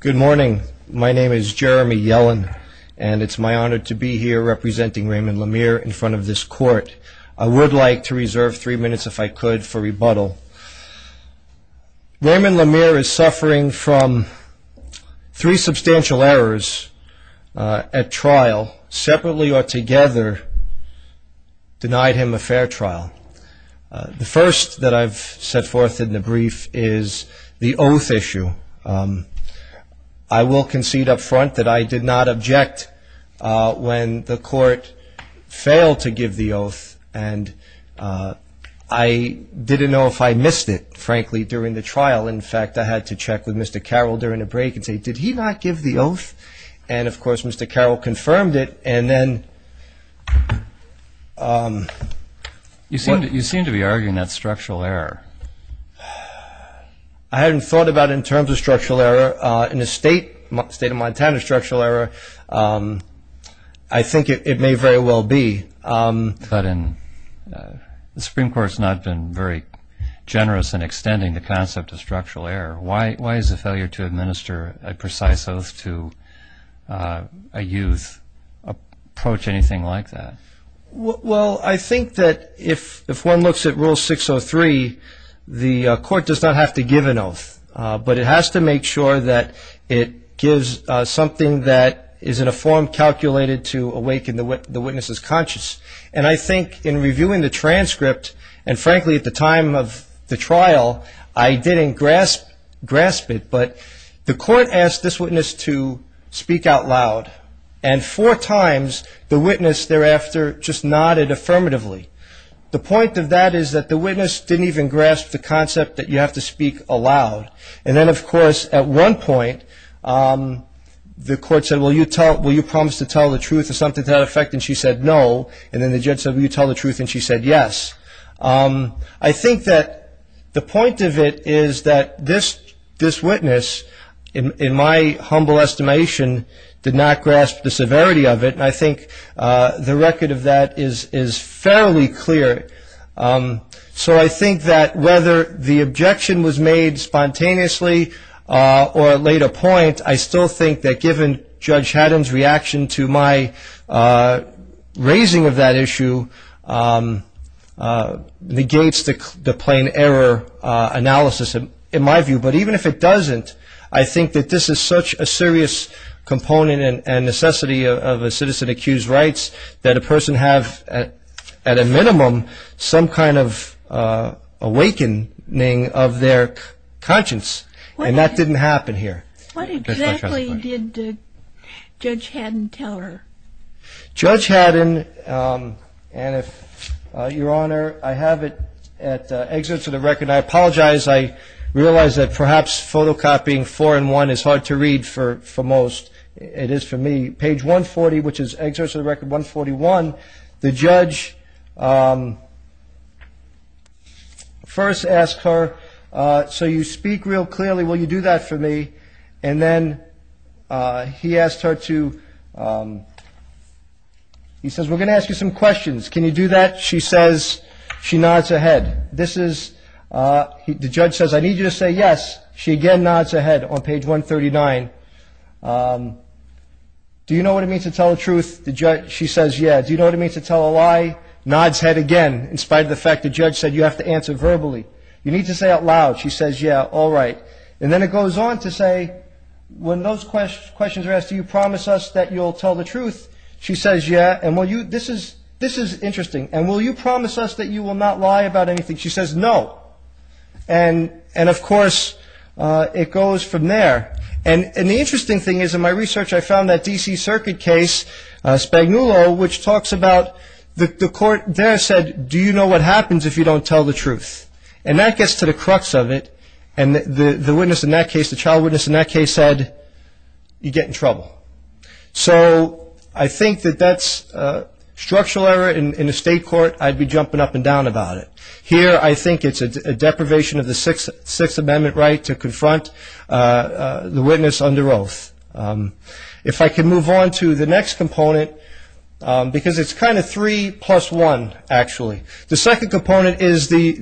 Good morning. My name is Jeremy Yellen, and it's my honor to be here representing Raymond Lamere in front of this court. I would like to reserve three minutes, if I could, for rebuttal. Raymond Lamere is suffering from three substantial errors at trial, separately or together, denied him a fair trial. The first that I've set forth in the brief is the oath issue. I will concede up front that I did not object when the court failed to give the oath, and I didn't know if I missed it, frankly, during the trial. In fact, I had to check with Mr. Carroll during the break and say, did he not give the oath? And, of course, Mr. Carroll confirmed it, and then... In the state of Montana, a structural error, I think it may very well be. But the Supreme Court's not been very generous in extending the concept of structural error. Why is a failure to administer a precise oath to a youth approach anything like that? Well, I think that if one looks at Rule 603, the court does not have to give an oath, but it has to make sure that it gives something that is in a form calculated to awaken the witness's conscience. And I think in reviewing the transcript, and frankly, at the time of the trial, I didn't grasp it, but the court asked this witness to speak out loud, and four times the witness thereafter just nodded affirmatively. The point of that is that the witness didn't even grasp the concept that you have to speak aloud, and then, of course, at one point, the court said, well, you promised to tell the truth or something to that effect, and she said no, and then the judge said, well, you tell the truth, and she said yes. I think that the point of it is that this witness, in my humble estimation, did not grasp the severity of it, and I think the record of that is fairly clear. So I think that whether the objection was made spontaneously or at later point, I still think that given Judge Haddam's reaction to my raising of that issue, negates the plain error analysis in my view. But even if it doesn't, I think that this is such a serious component and necessity of a citizen-accused rights that a person have, at a minimum, some kind of awakening of their conscience, and that didn't happen here. What exactly did Judge Haddam tell her? Judge Haddam, and if Your Honor, I have it at excerpt of the record. I apologize. I realize that perhaps photocopying four and one is hard to read for most. It is for me. Page 140, which is excerpt of the record 141. The judge first asked her, so you speak real clearly, will you do that for me? And then he asked her to, he says, we're going to ask you some questions. Can you do that? She says. She nods her head. This is, the judge says, I need you to say yes. She again nods her head on page 139. Do you know what it means to tell the truth? She says, yeah. Do you know what it means to tell a lie? Nods head again, in spite of the fact the judge said you have to answer verbally. You need to say out loud. She says, yeah, all right. And then it goes on to say, when those questions are asked, do you promise us that you'll tell the truth? She says, yeah. And will you, this is interesting. And will you promise us that you will not lie about anything? She says, no. And, of course, it goes from there. And the interesting thing is, in my research, I found that D.C. Circuit case, Spagnuolo, which talks about the court there said, do you know what happens if you don't tell the truth? And that gets to the crux of it. And the witness in that case, the trial witness in that case said, you get in trouble. So I think that that's structural error in a state court. I'd be jumping up and down about it. Here I think it's a deprivation of the Sixth Amendment right to confront the witness under oath. If I can move on to the next component, because it's kind of three plus one, actually. The second component is the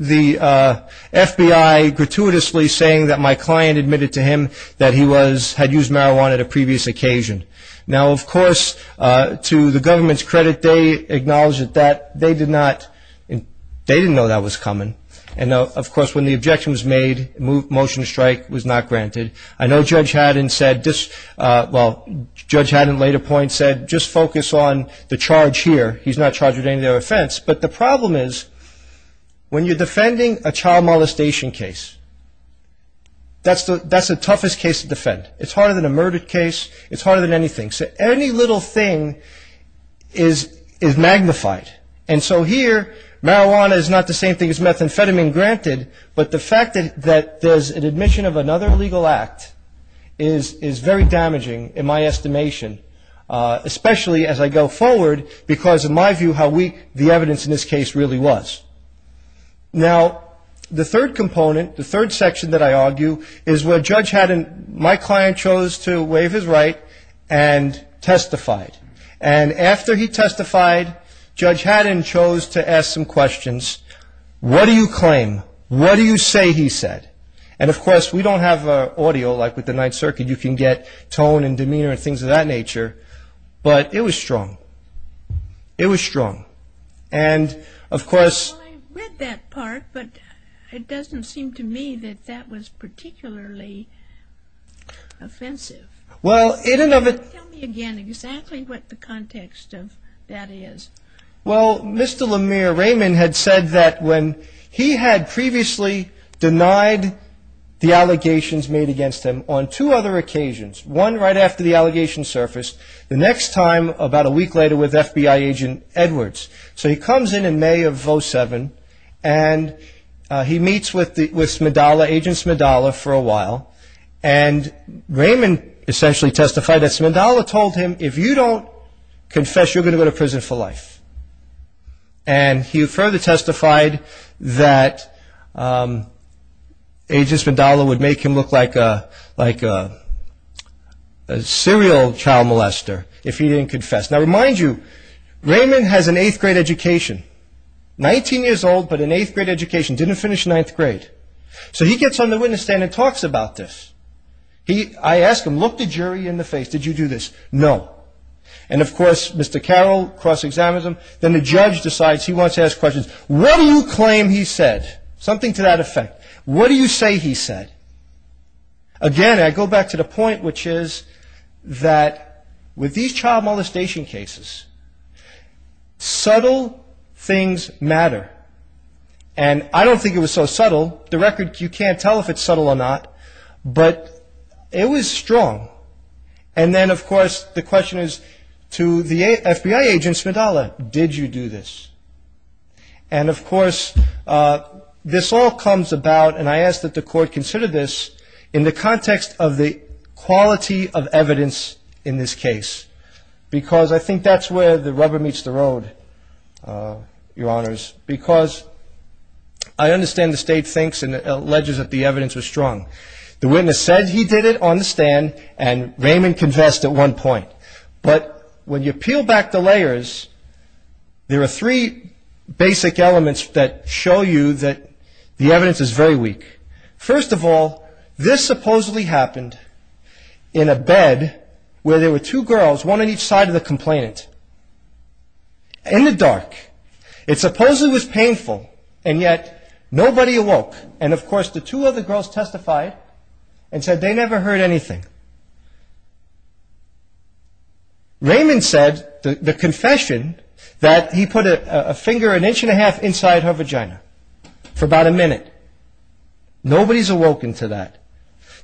FBI gratuitously saying that my client admitted to him that he was, had used marijuana at a previous occasion. Now, of course, to the government's credit, they acknowledged that they did not, they didn't know that was coming. And, of course, when the objection was made, motion to strike was not granted. I know Judge Haddon said, well, Judge Haddon at a later point said, just focus on the charge here. He's not charged with any other offense. But the problem is, when you're defending a child molestation case, that's the toughest case to defend. It's harder than a murder case. It's harder than anything. So any little thing is magnified. And so here marijuana is not the same thing as methamphetamine granted, but the fact that there's an admission of another illegal act is very damaging in my estimation, especially as I go forward because, in my view, how weak the evidence in this case really was. Now, the third component, the third section that I argue is where Judge Haddon, my client chose to waive his right and testified. And after he testified, Judge Haddon chose to ask some questions. What do you claim? What do you say he said? And, of course, we don't have audio like with the Ninth Circuit. You can get tone and demeanor and things of that nature. But it was strong. It was strong. Well, I read that part, but it doesn't seem to me that that was particularly offensive. Tell me again exactly what the context of that is. Well, Mr. Lemire Raymond had said that when he had previously denied the allegations made against him on two other occasions, one right after the allegations surfaced, the next time about a week later with FBI agent Edwards. So he comes in in May of 07, and he meets with Smidala, Agent Smidala, for a while. And Raymond essentially testified that Smidala told him, if you don't confess, you're going to go to prison for life. And he further testified that Agent Smidala would make him look like a serial child molester if he didn't confess. Now, I remind you, Raymond has an eighth-grade education, 19 years old, but an eighth-grade education, didn't finish ninth grade. So he gets on the witness stand and talks about this. I ask him, look the jury in the face. Did you do this? No. And, of course, Mr. Carroll cross-examines him. Then the judge decides he wants to ask questions. What do you claim he said? Something to that effect. What do you say he said? Again, I go back to the point, which is that with these child molestation cases, subtle things matter. And I don't think it was so subtle. The record, you can't tell if it's subtle or not, but it was strong. And then, of course, the question is to the FBI agent, Smidala, did you do this? And, of course, this all comes about, and I ask that the court consider this, in the context of the quality of evidence in this case, because I think that's where the rubber meets the road, Your Honors, because I understand the state thinks and alleges that the evidence was strong. The witness said he did it on the stand, and Raymond confessed at one point. But when you peel back the layers, there are three basic elements that show you that the evidence is very weak. First of all, this supposedly happened in a bed where there were two girls, one on each side of the complainant, in the dark. It supposedly was painful, and yet nobody awoke. And, of course, the two other girls testified and said they never heard anything. Raymond said, the confession, that he put a finger an inch and a half inside her vagina for about a minute. Nobody's awoken to that.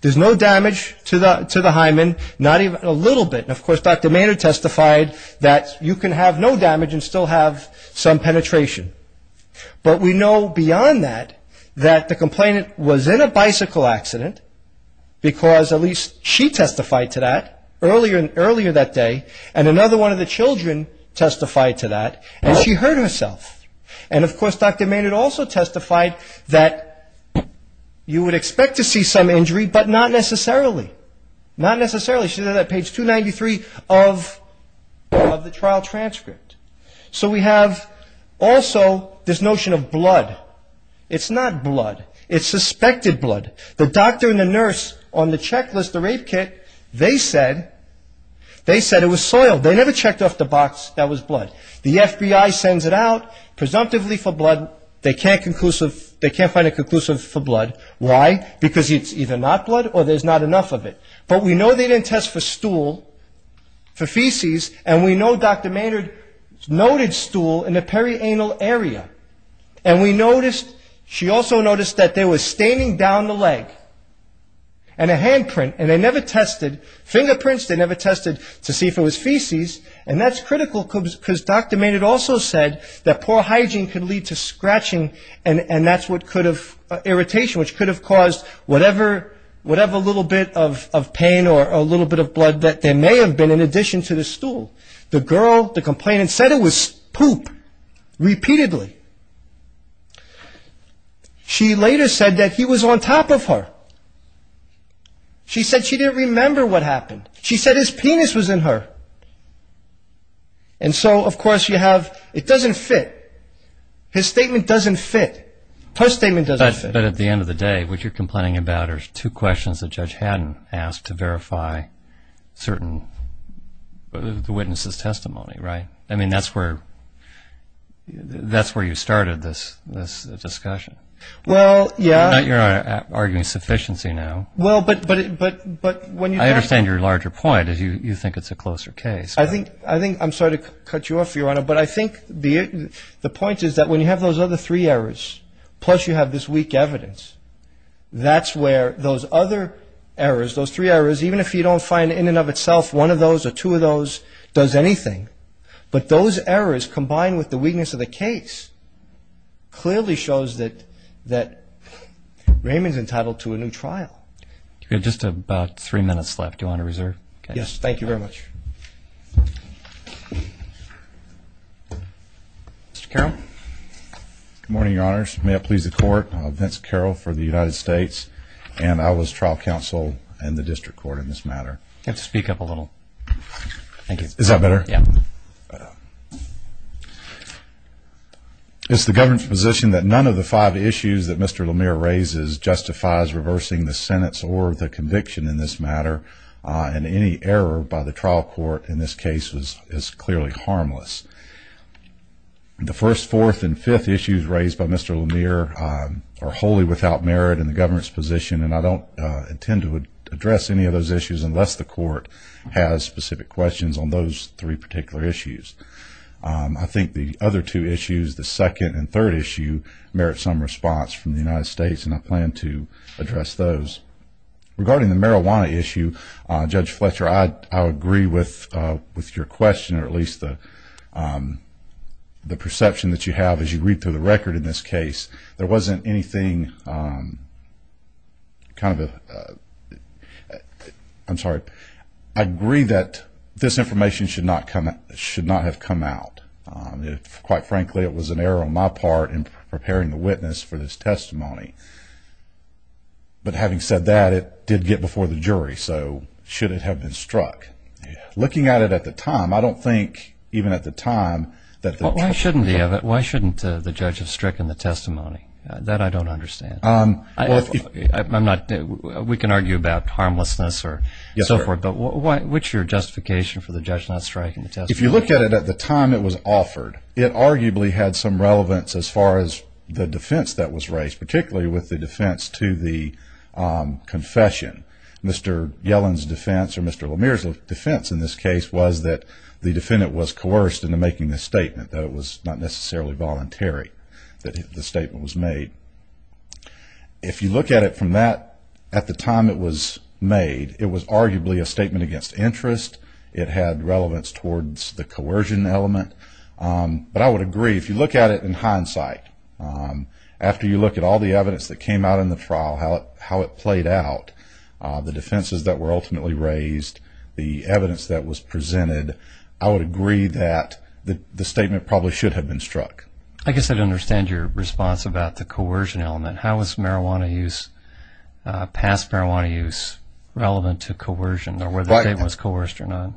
There's no damage to the hymen, not even a little bit. And, of course, Dr. Maynard testified that you can have no damage and still have some penetration. But we know beyond that, that the complainant was in a bicycle accident, because at least she testified to that earlier that day, and another one of the children testified to that, and she hurt herself. And, of course, Dr. Maynard also testified that you would expect to see some injury, but not necessarily. Not necessarily. She said that on page 293 of the trial transcript. So we have also this notion of blood. It's not blood. It's suspected blood. The doctor and the nurse on the checklist, the rape kit, they said it was soil. They never checked off the box that was blood. The FBI sends it out presumptively for blood. They can't find a conclusive for blood. Why? Because it's either not blood or there's not enough of it. But we know they didn't test for stool, for feces, and we know Dr. Maynard noted stool in the perianal area. And we noticed, she also noticed that there was staining down the leg and a handprint, and they never tested. Fingerprints, they never tested to see if it was feces. And that's critical, because Dr. Maynard also said that poor hygiene could lead to scratching, and that's what could have, irritation, which could have caused whatever little bit of pain or a little bit of blood that there may have been in addition to the stool. The girl, the complainant, said it was poop, repeatedly. She later said that he was on top of her. She said she didn't remember what happened. She said his penis was in her. And so, of course, you have, it doesn't fit. His statement doesn't fit. Her statement doesn't fit. But at the end of the day, what you're complaining about are two questions that Judge Haddon asked to verify certain, the witness's testimony, right? I mean, that's where you started this discussion. Well, yeah. Not you're arguing sufficiency now. Well, but when you... I understand your larger point is you think it's a closer case. I think, I'm sorry to cut you off, Your Honor, but I think the point is that when you have those other three errors, plus you have this weak evidence, that's where those other errors, those three errors, even if you don't find in and of itself one of those or two of those does anything, but those errors combined with the weakness of the case clearly shows that Raymond's entitled to a new trial. You have just about three minutes left. Do you want to reserve? Yes, thank you very much. Mr. Carroll? Good morning, Your Honors. May it please the Court. Vince Carroll for the United States, and I was trial counsel in the district court in this matter. You have to speak up a little. Thank you. Is that better? Yeah. It's the government's position that none of the five issues that Mr. Lemire raises justifies reversing the sentence or the conviction in this matter, and any error by the trial court in this case is clearly harmless. The first, fourth, and fifth issues raised by Mr. Lemire are wholly without merit in the government's position, and I don't intend to address any of those issues unless the court has specific questions on those three particular issues. I think the other two issues, the second and third issue, merit some response from the United States, and I plan to address those. Regarding the marijuana issue, Judge Fletcher, I agree with your question, or at least the perception that you have as you read through the record in this case. There wasn't anything kind of a – I'm sorry. I agree that this information should not have come out. Quite frankly, it was an error on my part in preparing the witness for this testimony. But having said that, it did get before the jury, so should it have been struck? Looking at it at the time, I don't think even at the time that the – Why shouldn't the judge have stricken the testimony? That I don't understand. We can argue about harmlessness or so forth, but what's your justification for the judge not striking the testimony? If you look at it at the time it was offered, it arguably had some relevance as far as the defense that was raised, particularly with the defense to the confession. Mr. Yellen's defense or Mr. Lemire's defense in this case was that the defendant was coerced into making this statement, though it was not necessarily voluntary that the statement was made. If you look at it from that – at the time it was made, it was arguably a statement against interest. It had relevance towards the coercion element. But I would agree, if you look at it in hindsight, after you look at all the evidence that came out in the trial, how it played out, the defenses that were ultimately raised, the evidence that was presented, I would agree that the statement probably should have been struck. I guess I'd understand your response about the coercion element. How is marijuana use, past marijuana use, relevant to coercion or whether the statement was coerced or not?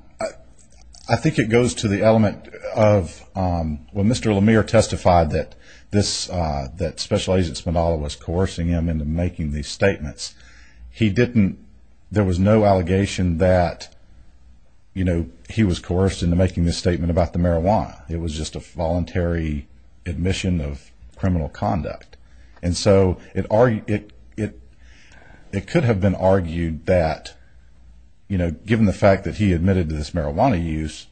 I think it goes to the element of when Mr. Lemire testified that Special Agent Spindola was coercing him into making these statements, he didn't – there was no allegation that he was coerced into making this statement about the marijuana. It was just a voluntary admission of criminal conduct. And so it could have been argued that, you know, given the fact that he admitted to this marijuana use,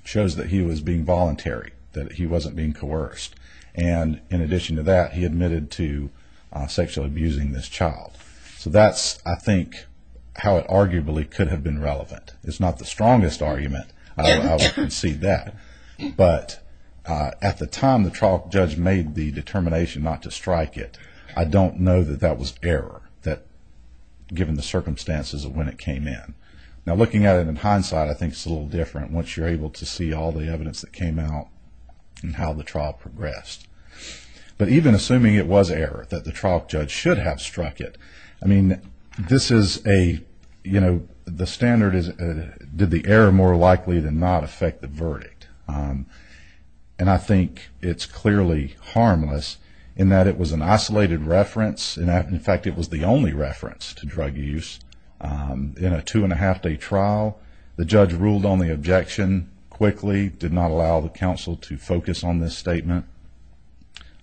it shows that he was being voluntary, that he wasn't being coerced. And in addition to that, he admitted to sexually abusing this child. So that's, I think, how it arguably could have been relevant. It's not the strongest argument, I would concede that. But at the time the trial judge made the determination not to strike it, I don't know that that was error, given the circumstances of when it came in. Now looking at it in hindsight, I think it's a little different once you're able to see all the evidence that came out and how the trial progressed. But even assuming it was error, that the trial judge should have struck it, I mean, this is a, you know, the standard is, did the error more likely than not affect the verdict? And I think it's clearly harmless in that it was an isolated reference, and in fact it was the only reference to drug use in a two-and-a-half-day trial. The judge ruled on the objection quickly, did not allow the counsel to focus on this statement.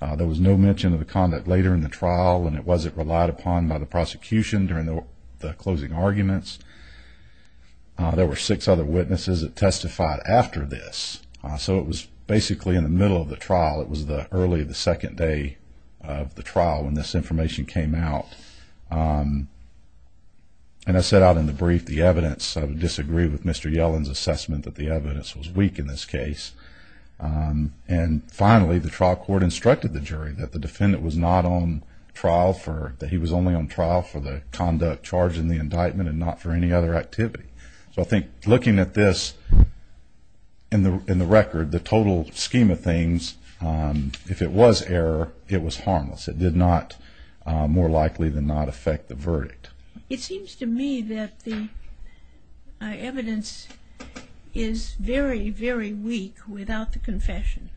There was no mention of the conduct later in the trial, and it wasn't relied upon by the prosecution during the closing arguments. There were six other witnesses that testified after this. So it was basically in the middle of the trial. It was early the second day of the trial when this information came out. And I set out in the brief the evidence. I would disagree with Mr. Yellen's assessment that the evidence was weak in this case. And finally, the trial court instructed the jury that the defendant was not on trial for, that he was only on trial for the conduct charged in the indictment and not for any other activity. So I think looking at this in the record, the total scheme of things, if it was error, it was harmless. It did not, more likely than not, affect the verdict. It seems to me that the evidence is very, very weak without the confession.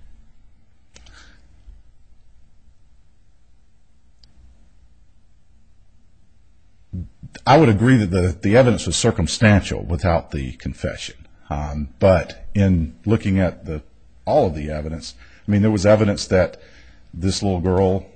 I would agree that the evidence was circumstantial without the confession. But in looking at all of the evidence, I mean, there was evidence that this little girl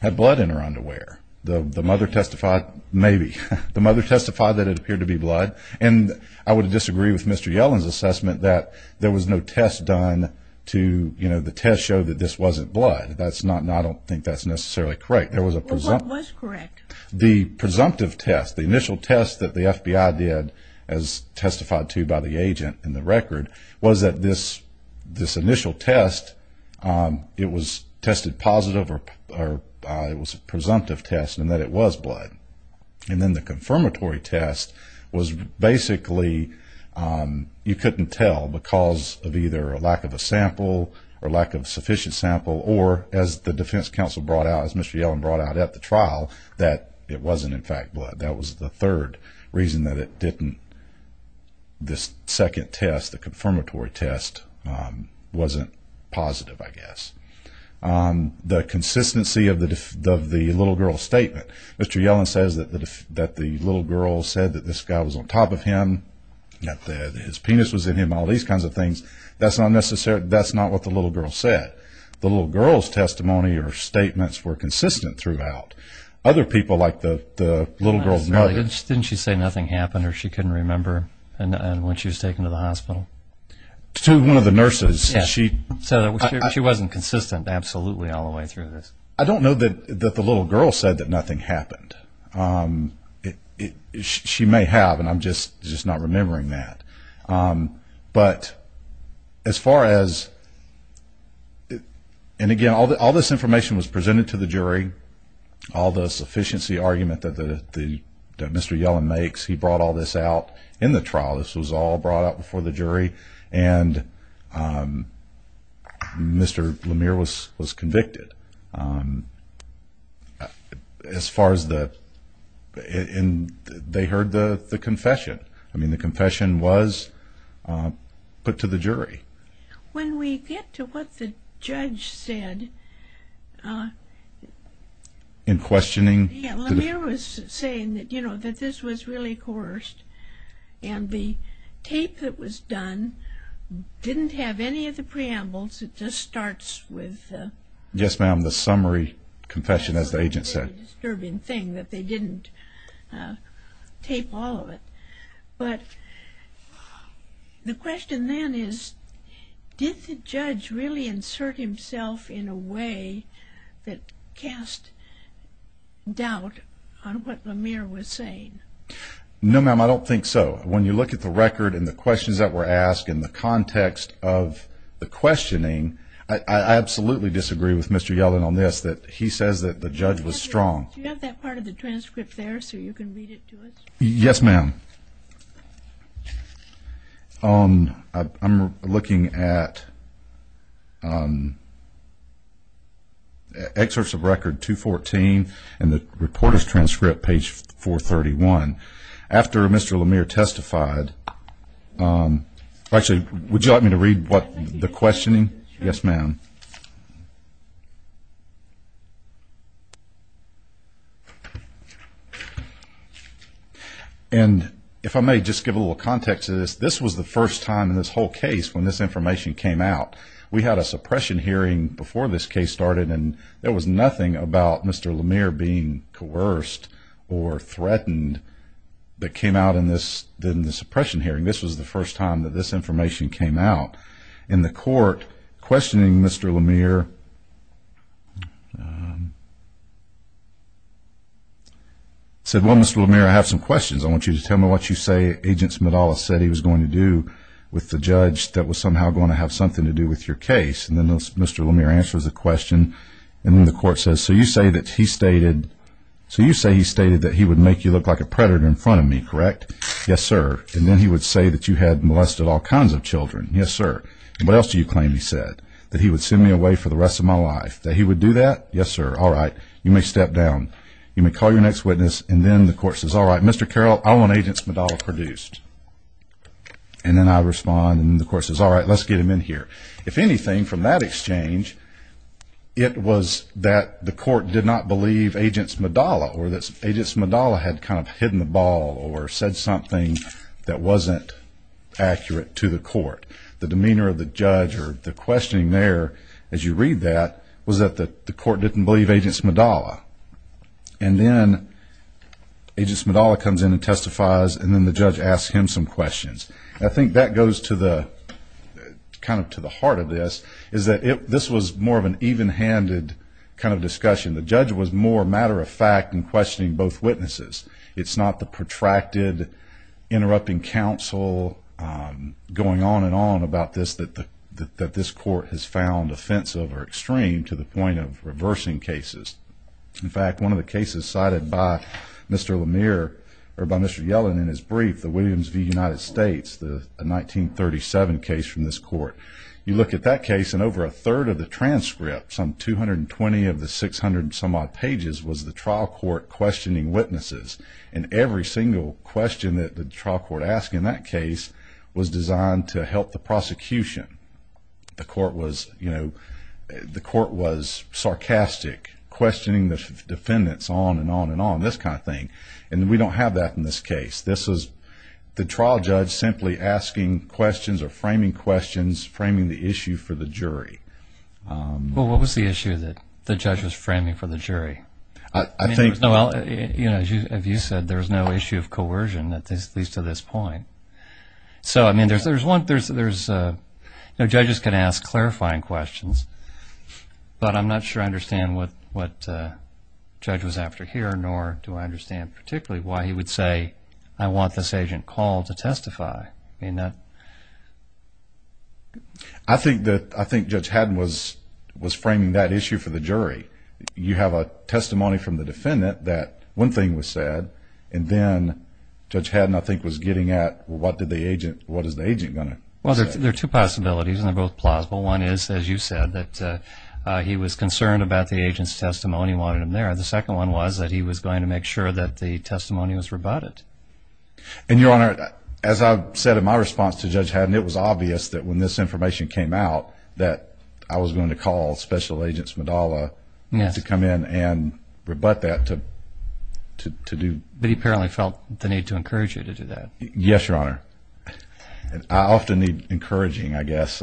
had blood in her underwear. The mother testified, maybe. The mother testified that it appeared to be blood. And I would disagree with Mr. Yellen's assessment that there was no test done to, you know, the test showed that this wasn't blood. That's not, and I don't think that's necessarily correct. There was a presumptive. Well, what was correct? The presumptive test, the initial test that the FBI did, as testified to by the agent in the record, was that this initial test, it was tested positive or it was a presumptive test and that it was blood. And then the confirmatory test was basically, you couldn't tell because of either a lack of a sample or lack of sufficient sample or, as the defense counsel brought out, as Mr. Yellen brought out at the trial, that it wasn't, in fact, blood. That was the third reason that it didn't, this second test, the confirmatory test, wasn't positive, I guess. The consistency of the little girl's statement. Mr. Yellen says that the little girl said that this guy was on top of him, that his penis was in him, all these kinds of things. That's not necessarily, that's not what the little girl said. The little girl's testimony or statements were consistent throughout. Other people, like the little girl's mother. Didn't she say nothing happened or she couldn't remember when she was taken to the hospital? To one of the nurses. She wasn't consistent, absolutely, all the way through this. I don't know that the little girl said that nothing happened. She may have and I'm just not remembering that. But as far as, and again, all this information was presented to the jury. All the sufficiency argument that Mr. Yellen makes, he brought all this out in the trial. This was all brought out before the jury. And Mr. Lemire was convicted. The confession was put to the jury. When we get to what the judge said. In questioning. Lemire was saying that this was really coerced. And the tape that was done didn't have any of the preambles. It just starts with. Yes, ma'am, the summary confession as the agent said. That they didn't tape all of it. But the question then is, did the judge really insert himself in a way that cast doubt on what Lemire was saying? No, ma'am, I don't think so. When you look at the record and the questions that were asked and the context of the questioning. I absolutely disagree with Mr. Yellen on this. That he says that the judge was strong. Do you have that part of the transcript there so you can read it to us? Yes, ma'am. I'm looking at excerpts of record 214 and the reporter's transcript, page 431. After Mr. Lemire testified. Would you like me to read the questioning? Yes, ma'am. And if I may just give a little context to this. This was the first time in this whole case when this information came out. We had a suppression hearing before this case started. And there was nothing about Mr. Lemire being coerced or threatened that came out in this suppression hearing. This was the first time that this information came out. And the court, questioning Mr. Lemire, said, well, Mr. Lemire, I have some questions. I want you to tell me what you say Agent Smidales said he was going to do with the judge that was somehow going to have something to do with your case. And then Mr. Lemire answers the question. And then the court says, so you say that he stated that he would make you look like a predator in front of me, correct? Yes, sir. And then he would say that you had molested all kinds of children. Yes, sir. And what else do you claim he said? That he would send me away for the rest of my life. That he would do that? Yes, sir. All right. You may step down. You may call your next witness. And then the court says, all right, Mr. Carroll, I want Agent Smidales produced. And then I respond. And the court says, all right, let's get him in here. If anything, from that exchange, it was that the court did not believe Agent Smidales or that Agent Smidales had kind of hidden the ball or said something that wasn't accurate to the court. The demeanor of the judge or the questioning there, as you read that, was that the court didn't believe Agent Smidales. And then Agent Smidales comes in and testifies, and then the judge asks him some questions. I think that goes to the heart of this, is that this was more of an even-handed kind of discussion. The judge was more matter-of-fact in questioning both witnesses. It's not the protracted, interrupting counsel going on and on about this that this court has found offensive or extreme to the point of reversing cases. In fact, one of the cases cited by Mr. Yellen in his brief, the Williams v. United States, the 1937 case from this court, you look at that case and over a third of the transcript, some 220 of the 600 and some odd pages, was the trial court questioning witnesses. And every single question that the trial court asked in that case was designed to help the prosecution. The court was sarcastic, questioning the defendants on and on and on, this kind of thing. And we don't have that in this case. This is the trial judge simply asking questions or framing questions, framing the issue for the jury. Well, what was the issue that the judge was framing for the jury? I think... Well, as you said, there's no issue of coercion, at least to this point. So, I mean, judges can ask clarifying questions, but I'm not sure I understand what the judge was after here, nor do I understand particularly why he would say, I want this agent called to testify. I think Judge Haddon was framing that issue for the jury. You have a testimony from the defendant that one thing was said, and then Judge Haddon, I think, was getting at, well, what is the agent going to say? Well, there are two possibilities, and they're both plausible. One is, as you said, that he was concerned about the agent's testimony and wanted him there. The second one was that he was going to make sure that the testimony was rebutted. And, Your Honor, as I've said in my response to Judge Haddon, it was obvious that when this information came out that I was going to call Special Agent Smidalla... Yes. ...to come in and rebut that, to do... But he apparently felt the need to encourage you to do that. Yes, Your Honor. I often need encouraging, I guess.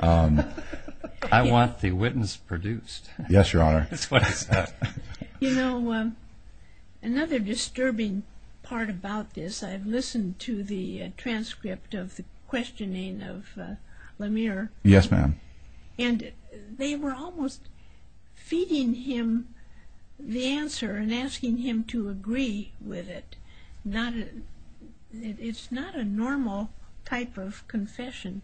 I want the witness produced. Yes, Your Honor. That's what I said. You know, another disturbing part about this, I've listened to the transcript of the questioning of Lemire. Yes, ma'am. And they were almost feeding him the answer and asking him to agree with it. It's not a normal type of confession.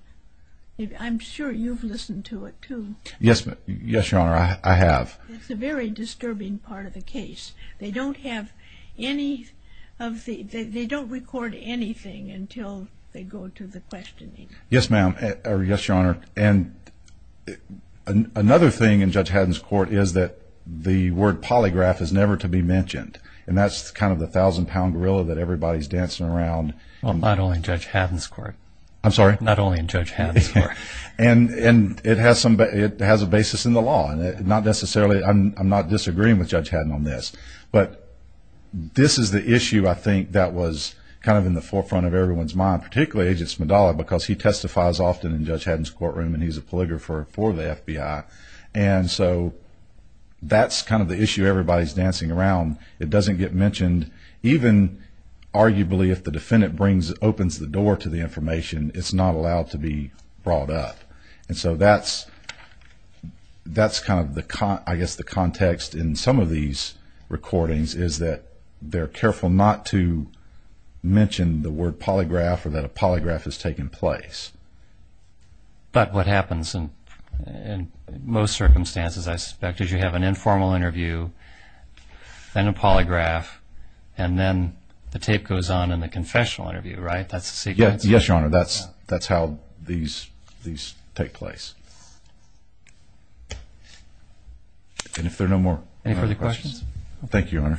I'm sure you've listened to it, too. Yes, Your Honor, I have. It's a very disturbing part of the case. They don't have any of the... They don't record anything until they go to the questioning. Yes, ma'am, or yes, Your Honor. And another thing in Judge Haddon's court is that the word polygraph is never to be mentioned. And that's kind of the thousand-pound gorilla that everybody's dancing around. Well, not only in Judge Haddon's court. I'm sorry? Not only in Judge Haddon's court. And it has a basis in the law. I'm not disagreeing with Judge Haddon on this. But this is the issue, I think, that was kind of in the forefront of everyone's mind, particularly Agent Smidala, because he testifies often in Judge Haddon's courtroom and he's a polygrapher for the FBI. And so that's kind of the issue everybody's dancing around. It doesn't get mentioned. Even, arguably, if the defendant opens the door to the information, it's not allowed to be brought up. And so that's kind of, I guess, the context in some of these recordings, is that they're careful not to mention the word polygraph or that a polygraph has taken place. But what happens in most circumstances, I suspect, is you have an informal interview, then a polygraph, and then the tape goes on in the confessional interview, right? That's the sequence? Yes, Your Honor. That's how these take place. And if there are no more... Any further questions? Thank you, Your Honor.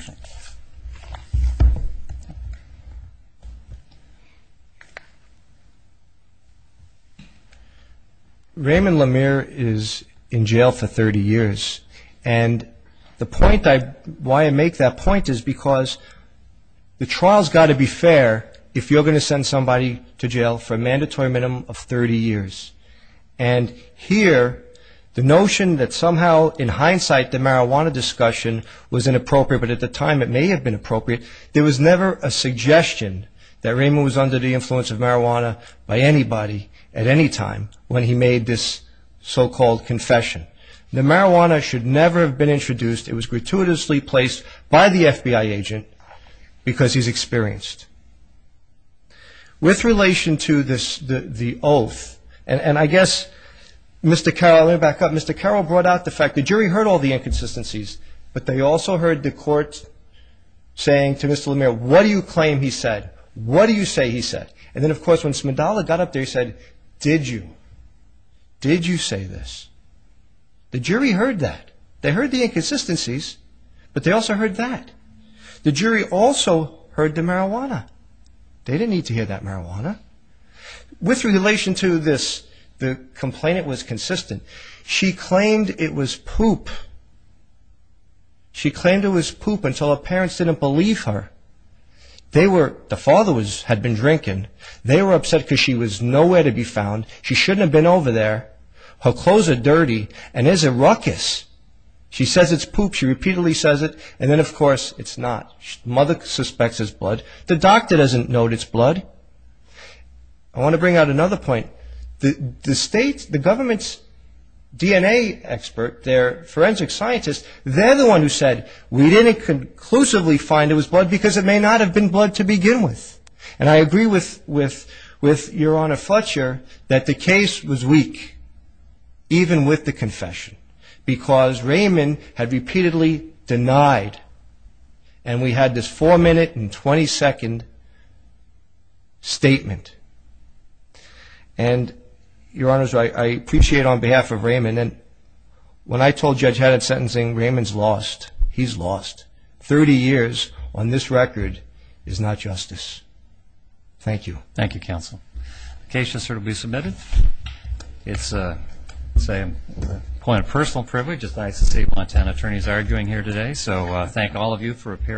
Raymond Lemire is in jail for 30 years, and the point why I make that point is because the trial's got to be fair if you're going to send somebody to jail for a mandatory minimum of 30 years. And here, the notion that somehow, in hindsight, the marijuana discussion was inappropriate, but at the time it may have been appropriate, there was never a suggestion that Raymond was under the influence of marijuana by anybody at any time when he made this so-called confession. The marijuana should never have been introduced. It was gratuitously placed by the FBI agent because he's experienced. With relation to the oath, and I guess, Mr. Carroll, let me back up. Mr. Carroll brought out the fact the jury heard all the inconsistencies, but they also heard the court saying to Mr. Lemire, what do you claim he said? What do you say he said? And then, of course, when Smidalla got up there, he said, did you? Did you say this? The jury heard that. They heard the inconsistencies, but they also heard that. The jury also heard the marijuana. They didn't need to hear that marijuana. With relation to this, the complainant was consistent. She claimed it was poop. She claimed it was poop until her parents didn't believe her. The father had been drinking. They were upset because she was nowhere to be found. She shouldn't have been over there. Her clothes are dirty and it's a ruckus. She says it's poop. She repeatedly says it. And then, of course, it's not. Mother suspects it's blood. The doctor doesn't note it's blood. I want to bring out another point. The state, the government's DNA expert, their forensic scientist, they're the one who said we didn't conclusively find it was blood because it may not have been blood to begin with. And I agree with Your Honor Fletcher that the case was weak, even with the confession, because Raymond had repeatedly denied. And we had this four-minute and 20-second statement. And, Your Honor, I appreciate on behalf of Raymond. And when I told Judge Haddard's sentencing, Raymond's lost, he's lost. Thirty years on this record is not justice. Thank you. Thank you, counsel. The case has certainly been submitted. It's quite a personal privilege. It's nice to see what Montana attorneys are doing here today. So thank all of you for appearing.